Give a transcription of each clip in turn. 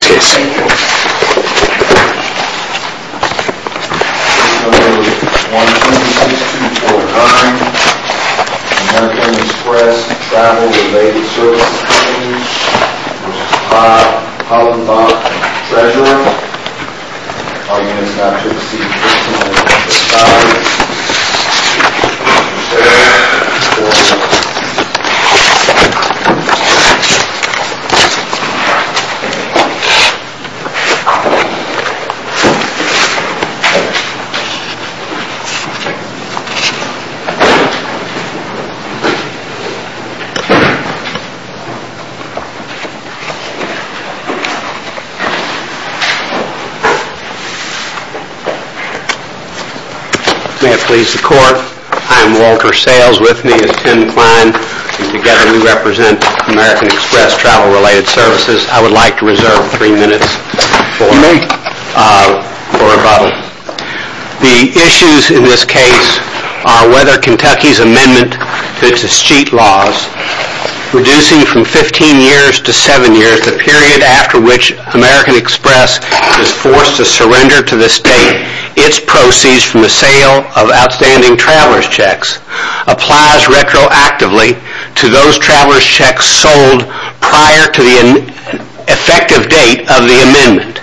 This is the 126249 American Express Travel Related Services Co. v. Hollenbach Treasure Room. All units now to the seats in the front, in the back, in the front, in the back. May it please the Court, I am Walter Sayles, with me is Tim Klein, and together we represent American Express Travel Related Services. I would like to reserve three minutes for me, for rebuttal. The issues in this case are whether Kentucky's amendment to its escheat laws, reducing from 15 years to 7 years, the period after which American Express is forced to surrender to the state its proceeds from the sale of outstanding traveler's checks, applies retroactively to those traveler's checks sold prior to the effective date of the amendment.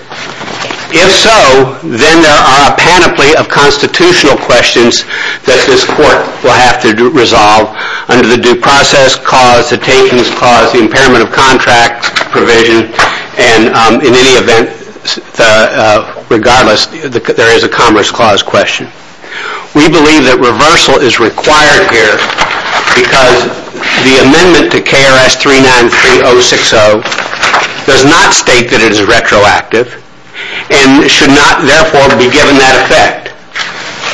If so, then there are a panoply of constitutional questions that this Court will have to resolve under the Due Process Clause, the Takings Clause, the Impairment of Contracts Provision, and in any event, regardless, there is a Commerce Clause question. We believe that reversal is required here because the amendment to KRS 393060 does not state that it is retroactive and should not, therefore, be given that effect.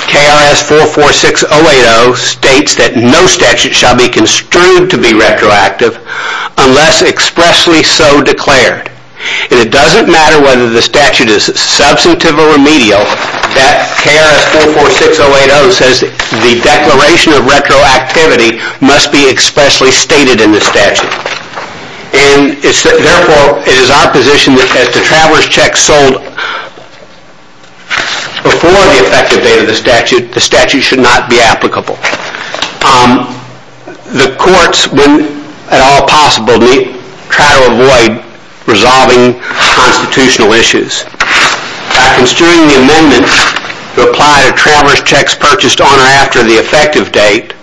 KRS 446080 states that no statute shall be construed to be retroactive unless expressly so declared. And it doesn't matter whether the statute is substantive or remedial, that KRS 446080 says the declaration of retroactivity must be expressly stated in the statute. And therefore, it is our position that as the traveler's checks sold before the effective date of the statute, the statute should not be applicable. The courts, when at all possible, try to avoid resolving constitutional issues. By construing the amendment to apply to traveler's checks purchased on or after the effective date,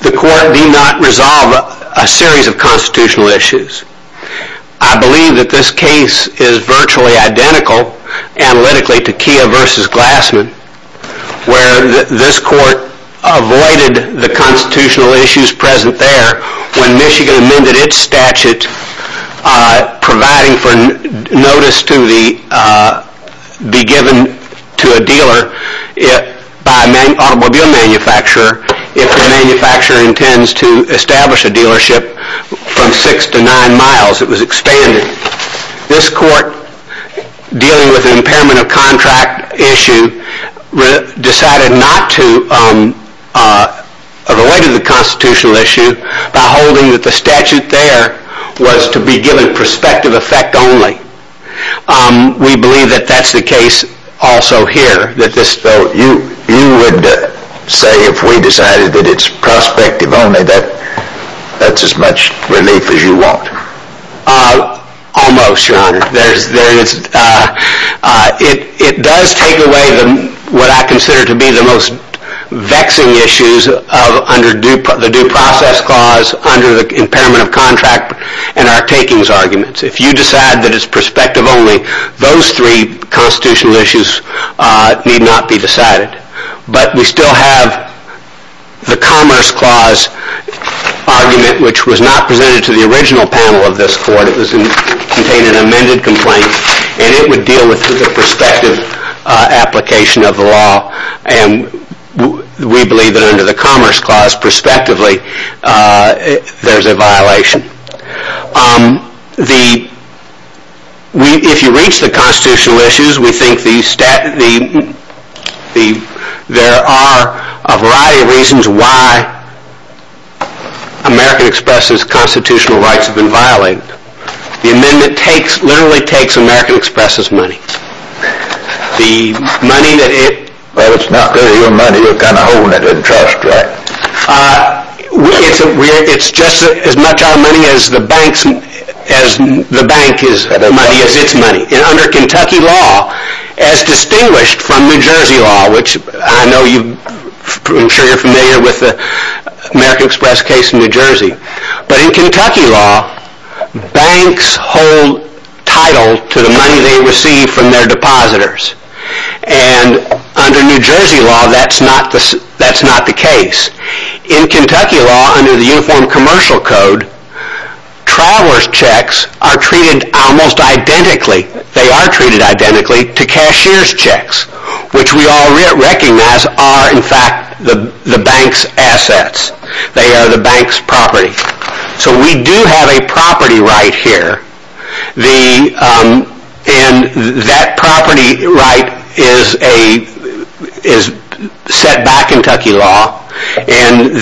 the court need not resolve a series of constitutional issues. I believe that this case is virtually identical, analytically, to Kia versus Glassman, where this court avoided the constitutional issues present there when Michigan amended its statute providing for notice to be given to a dealer by an automobile manufacturer if the manufacturer intends to establish a dealership from six to nine miles. It was expanded. This court, dealing with an impairment of contract issue, decided not to avoid the constitutional issue by holding that the statute there was to be given prospective effect only. We believe that that's the case also here. You would say if we decided that it's prospective only, that's as much relief as you want? Almost, Your Honor. It does take away what I consider to be the most vexing issues under the due process clause, under the impairment of contract, and our takings arguments. If you decide that it's prospective only, those three constitutional issues need not be decided. But we still have the commerce clause argument, which was not presented to the original panel of this court. It contained an amended complaint, and it would deal with the prospective application of the law, and we believe that under the commerce clause, prospectively, there's a violation. If you reach the constitutional issues, we think there are a variety of reasons why American Express's constitutional rights have been violated. The amendment literally takes American Express's money. Well, it's not really your money, you're kind of holding it in charge, correct? It's just as much our money as the bank's money, as its money. Under Kentucky law, as distinguished from New Jersey law, which I'm sure you're familiar with the American Express case in New Jersey, but in Kentucky law, banks hold title to the money they receive from their depositors, and under New Jersey law, that's not the case. In Kentucky law, under the Uniform Commercial Code, traveler's checks are treated almost identically, they are treated identically, to cashier's checks, which we all recognize are, in fact, the bank's assets. They are the bank's property. So we do have a property right here, and that property right is set by Kentucky law, and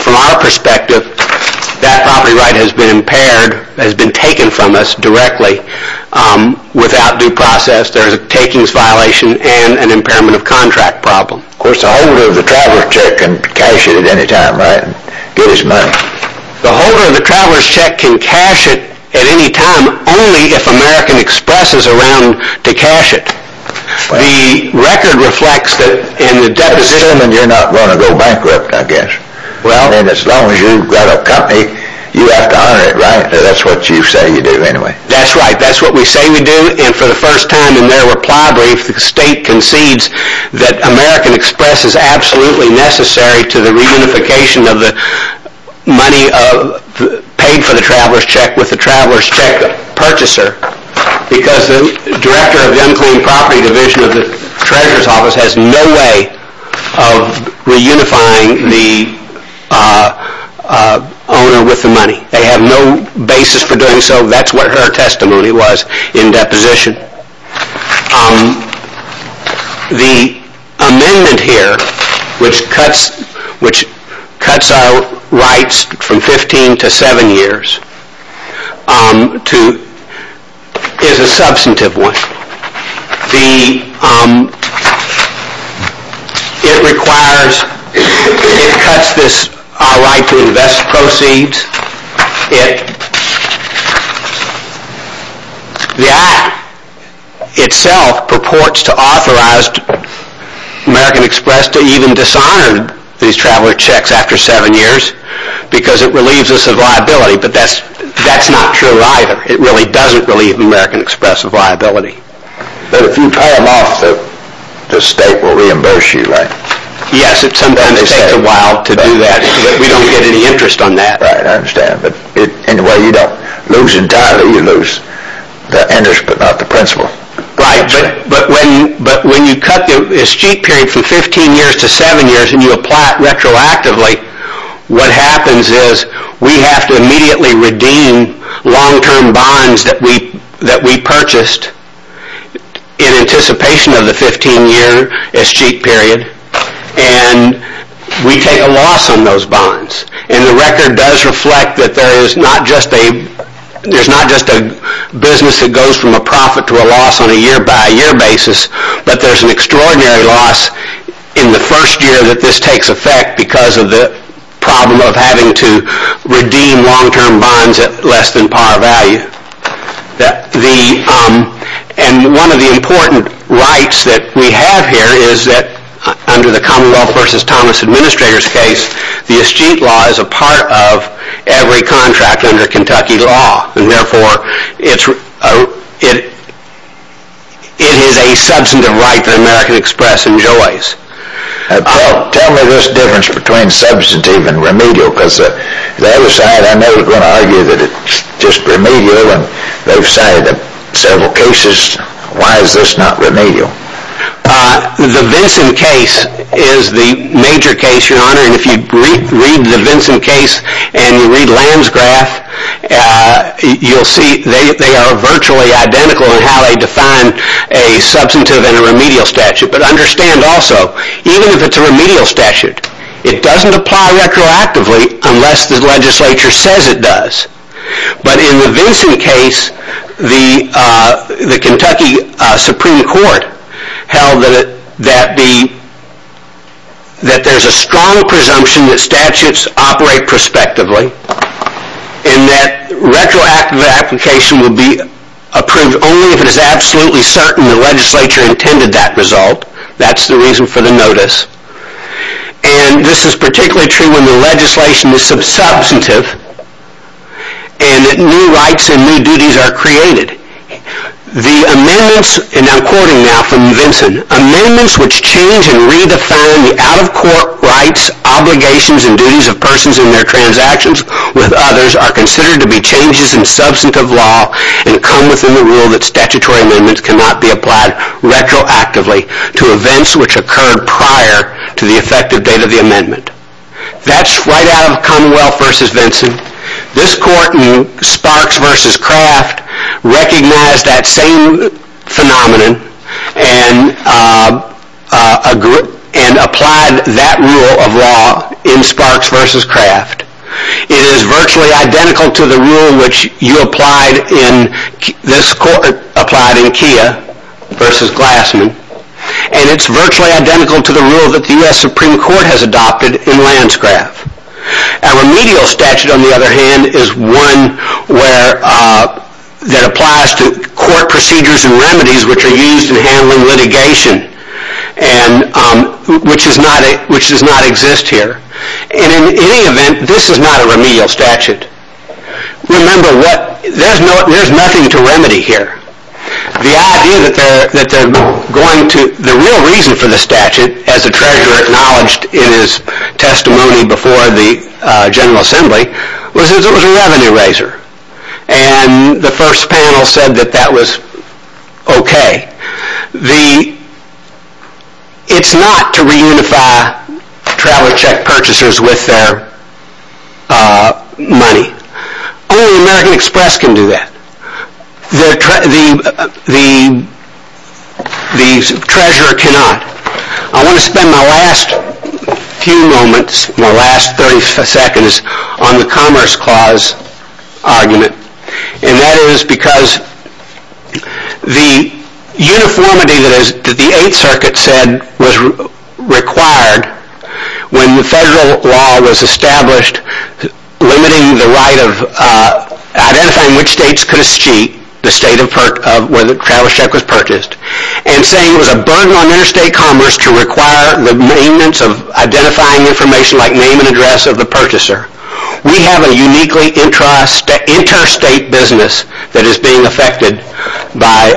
from our perspective, that property right has been taken from us directly without due process. There's a takings violation and an impairment of contract problem. Of course, the holder of the traveler's check can cash it at any time, right? Get his money. The holder of the traveler's check can cash it at any time, only if American Express is around to cash it. The record reflects that in the depository... Assuming you're not going to go bankrupt, I guess. Well... And as long as you've got a company, you have to honor it, right? That's what you say you do anyway. That's right, that's what we say we do, and for the first time in their reply brief, the state concedes that American Express is absolutely necessary to the reunification of the money paid for the traveler's check with the traveler's check purchaser because the director of the unclean property division of the treasurer's office has no way of reunifying the owner with the money. They have no basis for doing so. That's what her testimony was in deposition. The amendment here, which cuts our rights from 15 to 7 years, is a substantive one. It requires... It cuts this right to invest proceeds. The act itself purports to authorize American Express to even dishonor these traveler's checks after 7 years because it relieves us of liability, but that's not true either. It really doesn't relieve American Express of liability. But if you pay them off, the state will reimburse you, right? Yes, it sometimes takes a while to do that. We don't get any interest on that. Right, I understand. Anyway, you don't lose entirely. You lose the interest, but not the principal. Right, but when you cut the escheat period from 15 years to 7 years, and you apply it retroactively, what happens is we have to immediately redeem long-term bonds that we purchased in anticipation of the 15-year escheat period, and we take a loss on those bonds. And the record does reflect that there's not just a business that goes from a profit to a loss on a year-by-year basis, but there's an extraordinary loss in the first year that this takes effect because of the problem of having to redeem long-term bonds at less than par value. And one of the important rights that we have here is that, under the Commonwealth v. Thomas Administrator's case, the escheat law is a part of every contract under Kentucky law, and therefore it is a substantive right that American Express enjoys. Well, tell me this difference between substantive and remedial, because the other side, I know, is going to argue that it's just remedial, and they've cited several cases. Why is this not remedial? The Vinson case is the major case, Your Honor, and if you read the Vinson case and you read Landsgraf, you'll see they are virtually identical in how they define a substantive and a remedial statute. But understand also, even if it's a remedial statute, it doesn't apply retroactively unless the legislature says it does. But in the Vinson case, the Kentucky Supreme Court held that there's a strong presumption that statutes operate prospectively and that retroactive application would be approved only if it is absolutely certain the legislature intended that result. That's the reason for the notice. And this is particularly true when the legislation is substantive and new rights and new duties are created. The amendments, and I'm quoting now from Vinson, amendments which change and redefine the out-of-court rights, obligations, and duties of persons in their transactions with others are considered to be changes in substantive law and come within the rule that statutory amendments cannot be applied retroactively to events which occurred prior to the effective date of the amendment. That's right out of Commonwealth v. Vinson. This court in Sparks v. Craft recognized that same phenomenon and applied that rule of law in Sparks v. Craft. It is virtually identical to the rule which you applied in, versus Glassman, and it's virtually identical to the rule that the U.S. Supreme Court has adopted in Landsgraf. A remedial statute, on the other hand, is one that applies to court procedures and remedies which are used in handling litigation, which does not exist here. And in any event, this is not a remedial statute. Remember, there's nothing to remedy here. The real reason for the statute, as the Treasurer acknowledged in his testimony before the General Assembly, was that it was a revenue raiser, and the first panel said that that was okay. It's not to reunify travel check purchasers with their money. Only American Express can do that. The Treasurer cannot. I want to spend my last few moments, my last 30 seconds, on the Commerce Clause argument, and that is because the uniformity that the Eighth Circuit said was required when federal law was established limiting the right of identifying which states could cheat the state where the travel check was purchased, and saying it was a burden on interstate commerce to require the maintenance of identifying information like name and address of the purchaser. We have a uniquely interstate business that is being affected by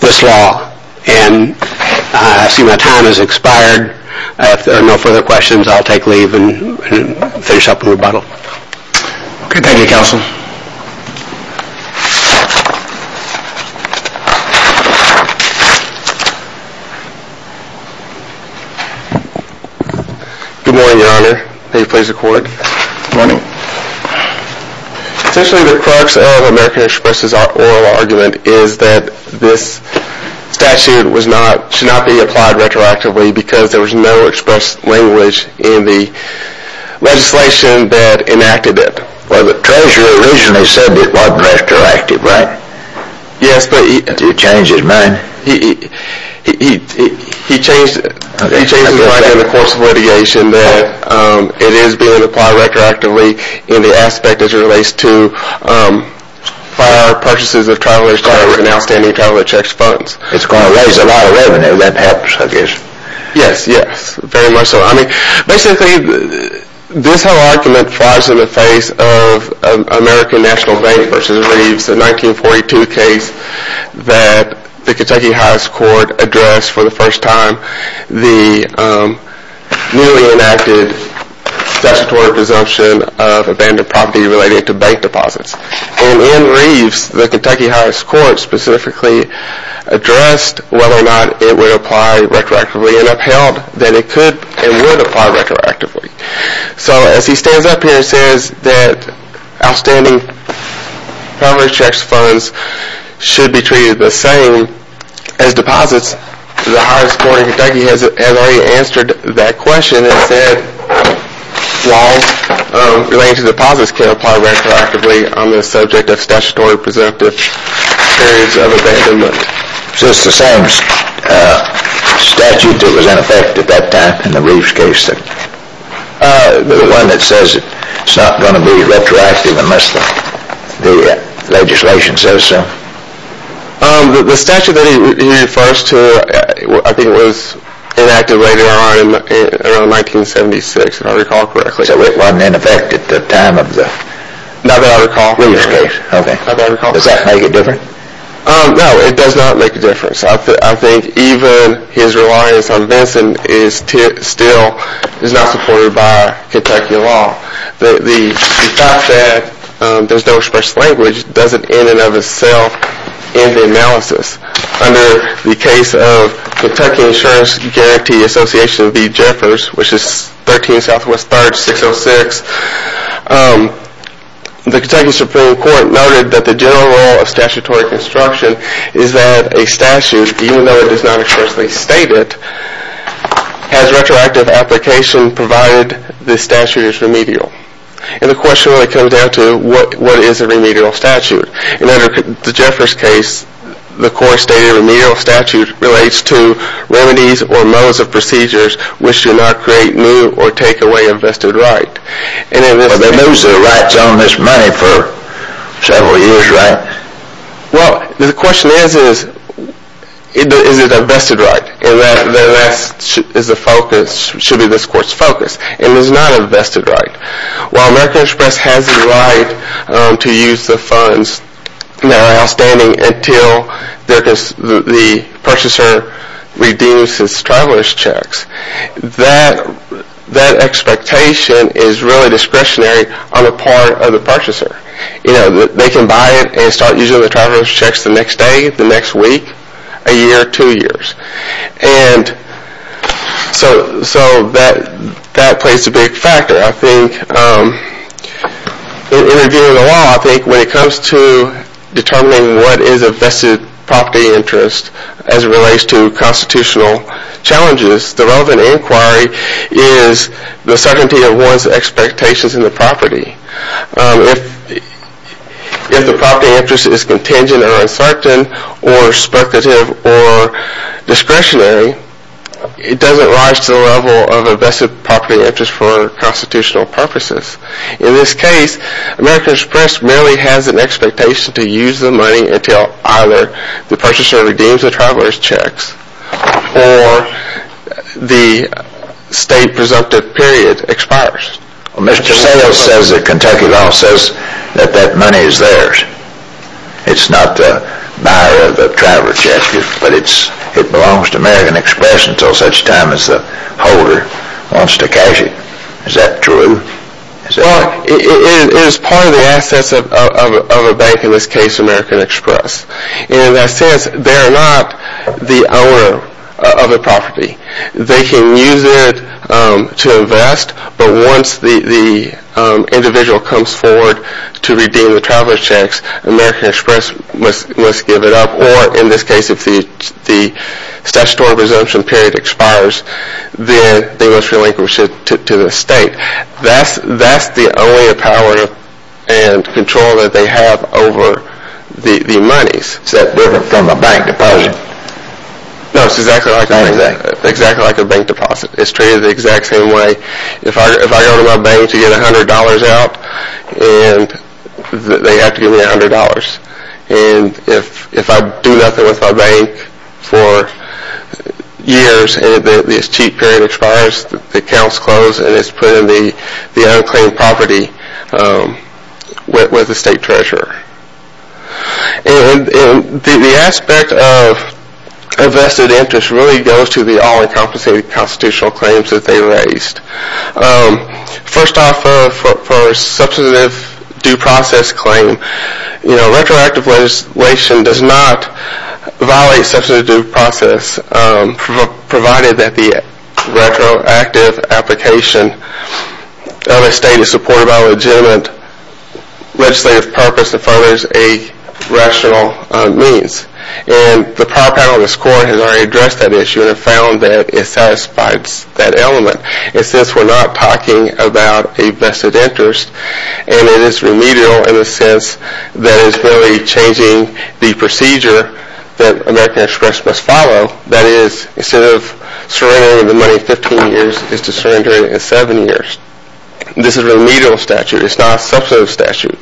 this law. And I see my time has expired. If there are no further questions, I'll take leave and finish up the rebuttal. Okay. Thank you, Counsel. Good morning, Your Honor. May you please record? Good morning. Essentially the crux of American Express' oral argument is that this statute should not be applied retroactively because there was no expressed language in the legislation that enacted it. Well, the Treasurer originally said it was retroactive, right? Yes, but he... Did he change his mind? He changed his mind in the course of litigation that it is being applied retroactively in the aspect as it relates to prior purchases of travel insurance and outstanding travel insurance funds. It's going to raise a lot of revenue, that perhaps, I guess. Yes, yes, very much so. I mean, basically, this whole argument flies in the face of American National Bank v. Reeves, the 1942 case that the Kentucky High Court addressed for the first time, the newly enacted statutory presumption of abandoned property related to bank deposits. And in Reeves, the Kentucky High Court specifically addressed whether or not it would apply retroactively and upheld that it could and would apply retroactively. So as he stands up here and says that outstanding property insurance funds should be treated the same as deposits, the highest court in Kentucky has already answered that question and said laws relating to deposits can apply retroactively on the subject of statutory presumptive periods of abandonment. So it's the same statute that was in effect at that time in the Reeves case? The one that says it's not going to be retroactive unless the legislation says so? The statute that he refers to, I think it was enacted later on in 1976, if I recall correctly. So it wasn't in effect at the time of the Reeves case? Does that make it different? No, it does not make a difference. I think even his reliance on Vinson still is not supported by Kentucky law. The fact that there's no express language doesn't in and of itself end the analysis. Under the case of Kentucky Insurance Guarantee Association v. Jeffers, which is 13 SW 3rd 606, the Kentucky Supreme Court noted that the general role of statutory construction is that a statute, even though it is not explicitly stated, has retroactive application provided the statute is remedial. And the question really comes down to what is a remedial statute? And under the Jeffers case, the court stated a remedial statute relates to remedies or modes of procedures which do not create new or take away a vested right. But they lose their rights on this money for several years, right? Well, the question is, is it a vested right? And that should be this court's focus. It is not a vested right. While American Express has the right to use the funds that are outstanding until the purchaser redeems his traveler's checks, that expectation is really discretionary on the part of the purchaser. They can buy it and start using the traveler's checks the next day, the next week, a year, two years. And so that plays a big factor, I think. In reviewing the law, I think when it comes to determining what is a vested property interest as it relates to constitutional challenges, the relevant inquiry is the certainty of one's expectations in the property. If the property interest is contingent or uncertain or speculative or discretionary, it doesn't rise to the level of a vested property interest for constitutional purposes. In this case, American Express merely has an expectation to use the money until either the purchaser redeems the traveler's checks or the state presumptive period expires. Mr. Settles says that Kentucky law says that that money is theirs. It's not the buyer of the traveler's checks, but it belongs to American Express until such time as the holder wants to cash it. Is that true? It is part of the assets of a bank, in this case American Express. And in that sense, they're not the owner of the property. They can use it to invest, but once the individual comes forward to redeem the traveler's checks, American Express must give it up, or in this case if the statutory presumption period expires, then they must relinquish it to the state. That's the only power and control that they have over the monies. Is that different from a bank deposit? No, it's exactly like a bank deposit. It's treated the exact same way. If I go to my bank to get $100 out, they have to give me $100. And if I do nothing with my bank for years and this cheat period expires, the accounts close and it's put in the unclaimed property with the state treasurer. The aspect of vested interest really goes to the all-encompassing constitutional claims that they raised. First off, for a substantive due process claim, retroactive legislation does not violate substantive due process, provided that the retroactive application of a state is supported by a legitimate legislative purpose and furthers a rational means. And the power panel in this court has already addressed that issue and have found that it satisfies that element. It's just we're not talking about a vested interest, and it is remedial in the sense that it's really changing the procedure that American Express must follow. That is, instead of surrendering the money 15 years, it's to surrender it in 7 years. This is a remedial statute. It's not a substantive statute.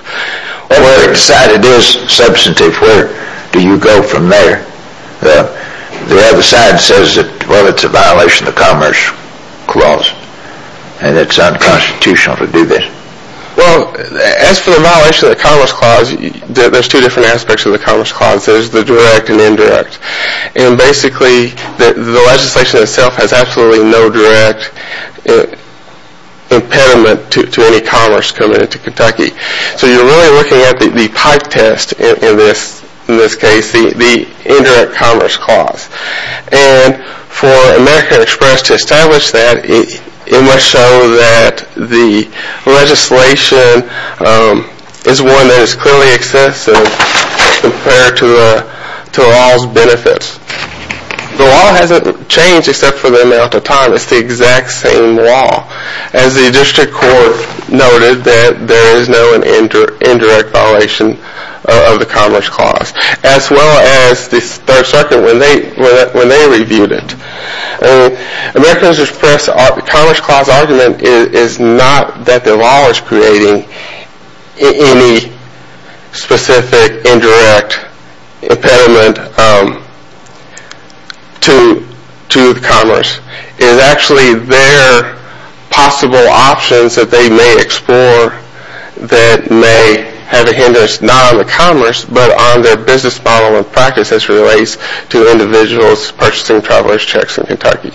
Well, when they decide it is substantive, where do you go from there? The other side says that, well, it's a violation of the Commerce Clause, and it's unconstitutional to do this. Well, as for the violation of the Commerce Clause, there's two different aspects of the Commerce Clause. There's the direct and indirect. And basically, the legislation itself has absolutely no direct impediment to any commerce coming into Kentucky. So you're really looking at the pipe test in this case, the indirect Commerce Clause. And for American Express to establish that, it must show that the legislation is one that is clearly excessive compared to all its benefits. The law hasn't changed except for the amount of time. It's the exact same law. As the district court noted, there is no indirect violation of the Commerce Clause, as well as the 3rd Circuit when they reviewed it. American Express' Commerce Clause argument is not that the law is creating any specific indirect impediment to commerce. It is actually their possible options that they may explore that may have a hindrance, not on the commerce, but on their business model and practice as it relates to individuals purchasing traveler's checks in Kentucky.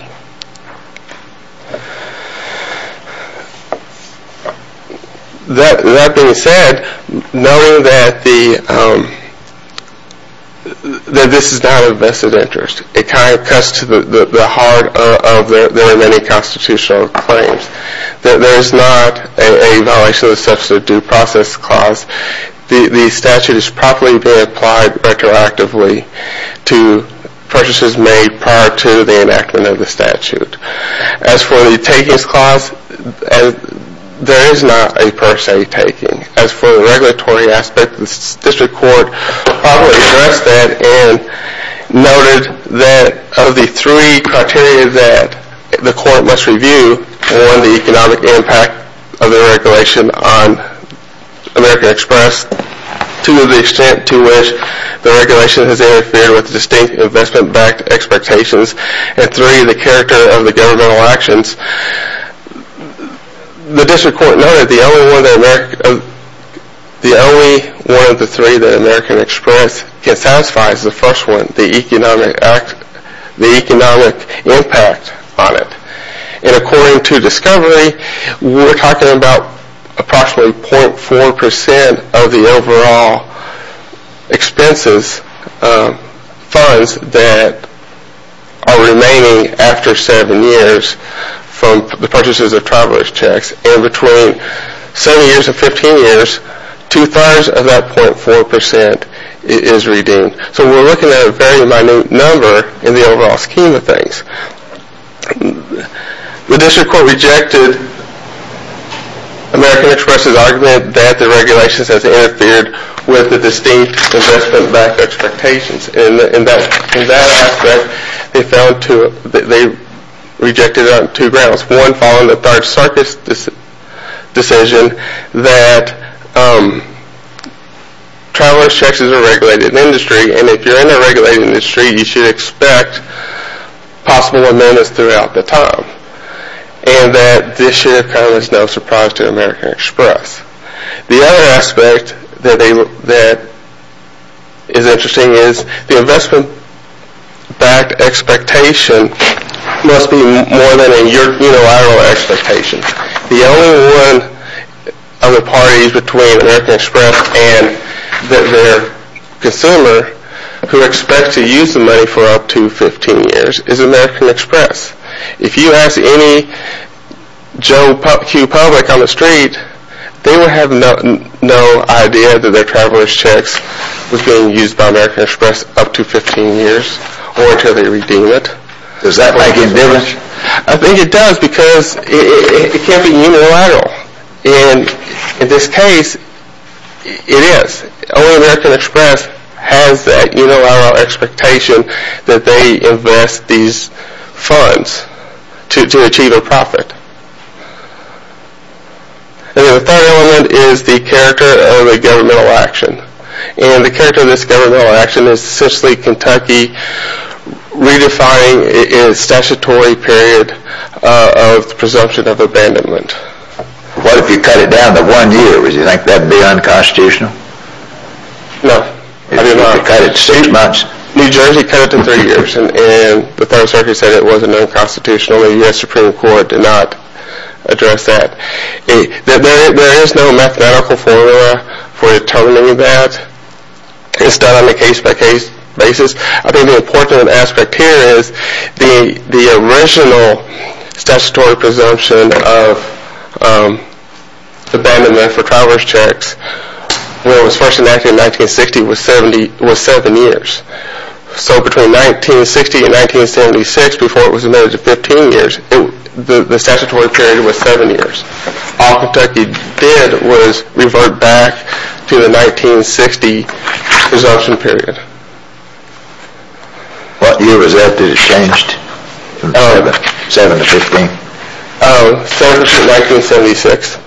That being said, knowing that this is not of vested interest, it kind of cuts to the heart of their remaining constitutional claims. There is not a violation of the Substitute Due Process Clause. The statute is properly being applied retroactively to purchases made prior to the enactment of the statute. As for the Takings Clause, there is not a per se taking. As for the regulatory aspect, the district court properly addressed that and noted that of the three criteria that the court must review, one, the economic impact of the regulation on American Express, two, the extent to which the regulation has interfered with distinct investment-backed expectations, and three, the character of the governmental actions, the district court noted that the only one of the three that American Express can satisfy is the first one, the economic impact on it. According to Discovery, we are talking about approximately 0.4% of the overall expenses, funds that are remaining after seven years from the purchases of traveler's checks, and between seven years and 15 years, two-thirds of that 0.4% is redeemed. So we are looking at a very minute number in the overall scheme of things. The district court rejected American Express' argument that the regulation has interfered with the distinct investment-backed expectations, and in that aspect, they rejected it on two grounds. One, following the Third Circuit's decision that traveler's checks is a regulated industry, and if you're in a regulated industry, you should expect possible amendments throughout the time, and that this should have come as no surprise to American Express. The other aspect that is interesting is the investment-backed expectation must be more than a unilateral expectation. The only one of the parties between American Express and their consumer who expects to use the money for up to 15 years is American Express. If you ask any Joe Q. public on the street, they would have no idea that their traveler's checks was being used by American Express up to 15 years or until they redeem it. Does that make any difference? I think it does because it can't be unilateral, and in this case, it is. Only American Express has that unilateral expectation that they invest these funds to achieve a profit. The third element is the character of the governmental action, and the character of this governmental action is essentially Kentucky redefining its statutory period of presumption of abandonment. What if you cut it down to one year? Would you like that to be unconstitutional? No. If you cut it to three months? New Jersey cut it to three years, and the Third Circuit said it wasn't unconstitutional, and the U.S. Supreme Court did not address that. There is no mathematical formula for determining that. It's done on a case-by-case basis. I think the important aspect here is the original statutory presumption of abandonment for traveler's checks, when it was first enacted in 1960, was seven years. So between 1960 and 1976, before it was amended to 15 years, the statutory period was seven years. All Kentucky did was revert back to the 1960 presumption period. What year was that? Did it change from 7 to 15? It changed to 1976.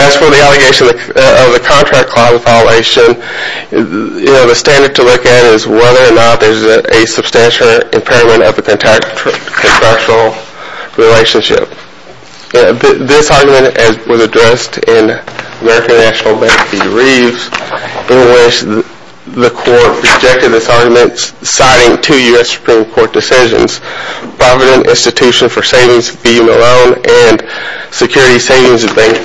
As for the allegation of the contract clause violation, the standard to look at is whether or not there is a substantial impairment of the contractual relationship. This argument was addressed in American National Bank v. Reeves, in which the court rejected this argument citing two U.S. Supreme Court decisions, Provident Institution for Savings v. Malone and Security Savings Bank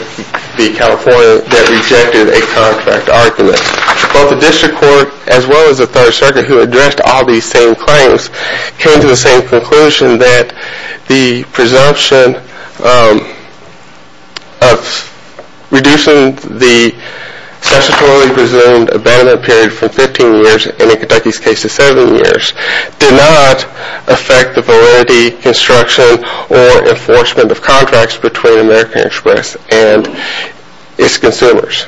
v. California, that rejected a contract argument. Both the District Court as well as the Third Circuit, who addressed all these same claims, came to the same conclusion that the presumption of reducing the statutorily presumed abandonment period from 15 years, and in Kentucky's case, to seven years, did not affect the validity, construction, or enforcement of contracts between American Express and its consumers.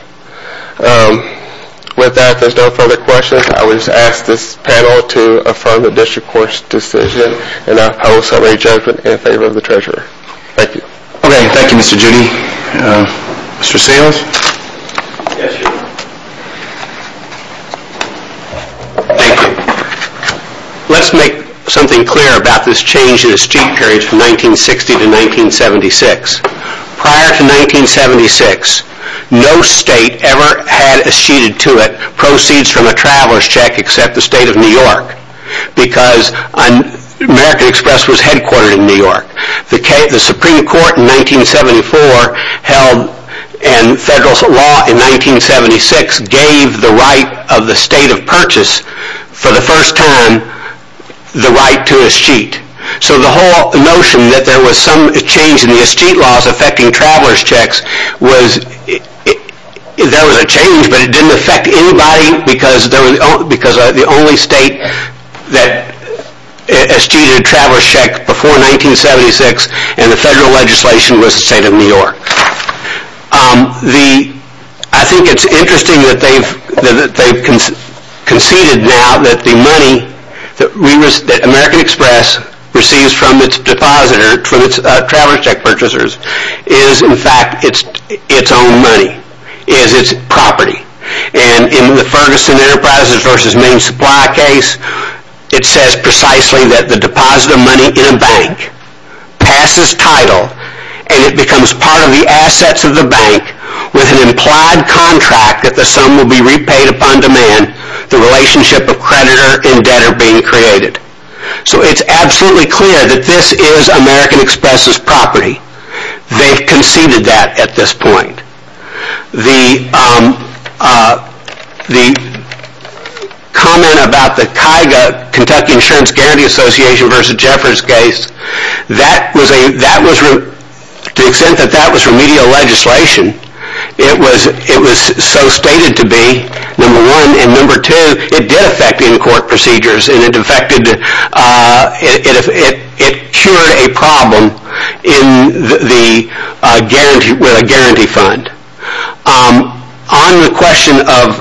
With that, if there are no further questions, I would ask this panel to affirm the District Court's decision, and I'll call a summary judgment in favor of the Treasurer. Thank you. Thank you, Mr. Judy. Mr. Samuels? Thank you. Let's make something clear about this change in the sheet period from 1960 to 1976. Prior to 1976, no state ever had acceded to it proceeds from a traveler's check except the state of New York, because American Express was headquartered in New York. The Supreme Court in 1974 and federal law in 1976 gave the right of the state of purchase for the first time the right to a sheet. So the whole notion that there was some change in the sheet laws affecting traveler's checks was there was a change, but it didn't affect anybody because the only state that acceded to a traveler's check before 1976 in the federal legislation was the state of New York. I think it's interesting that they've conceded now that the money that American Express receives from its depositor, from its traveler's check purchasers, is in fact its own money, is its property. And in the Ferguson Enterprises v. Main Supply case, it says precisely that the depositor money in a bank passes title and it becomes part of the assets of the bank with an implied contract that the sum will be repaid upon demand, the relationship of creditor and debtor being created. So it's absolutely clear that this is American Express's property. They've conceded that at this point. The comment about the Kentucky Insurance Guarantee Association v. Jeffers case, to the extent that that was remedial legislation, it was so stated to be, number one. And number two, it did affect in-court procedures, and it cured a problem with a guarantee fund. On the question of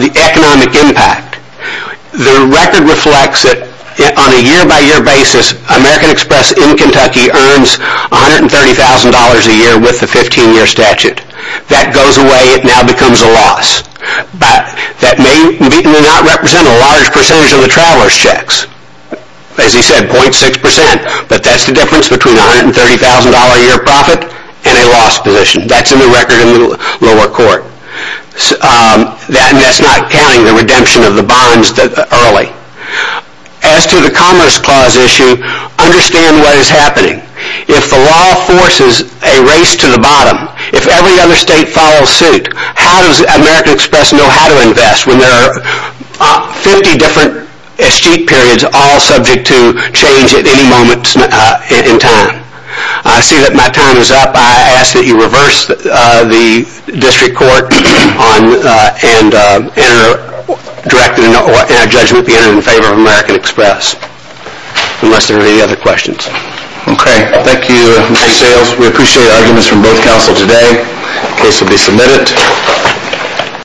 the economic impact, the record reflects that on a year-by-year basis, American Express in Kentucky earns $130,000 a year with the 15-year statute. That goes away. It now becomes a loss. That may not represent a large percentage of the traveler's checks. As he said, 0.6%. But that's the difference between a $130,000-a-year profit and a loss position. That's in the record in the lower court. That's not counting the redemption of the bonds early. As to the Commerce Clause issue, understand what is happening. If the law forces a race to the bottom, if every other state follows suit, how does American Express know how to invest when there are 50 different escheat periods all subject to change at any moment in time? I see that my time is up. I ask that you reverse the district court and enter judgment in favor of American Express, unless there are any other questions. Okay. Thank you, Mr. Sayles. We appreciate arguments from both counsels today. The case will be submitted.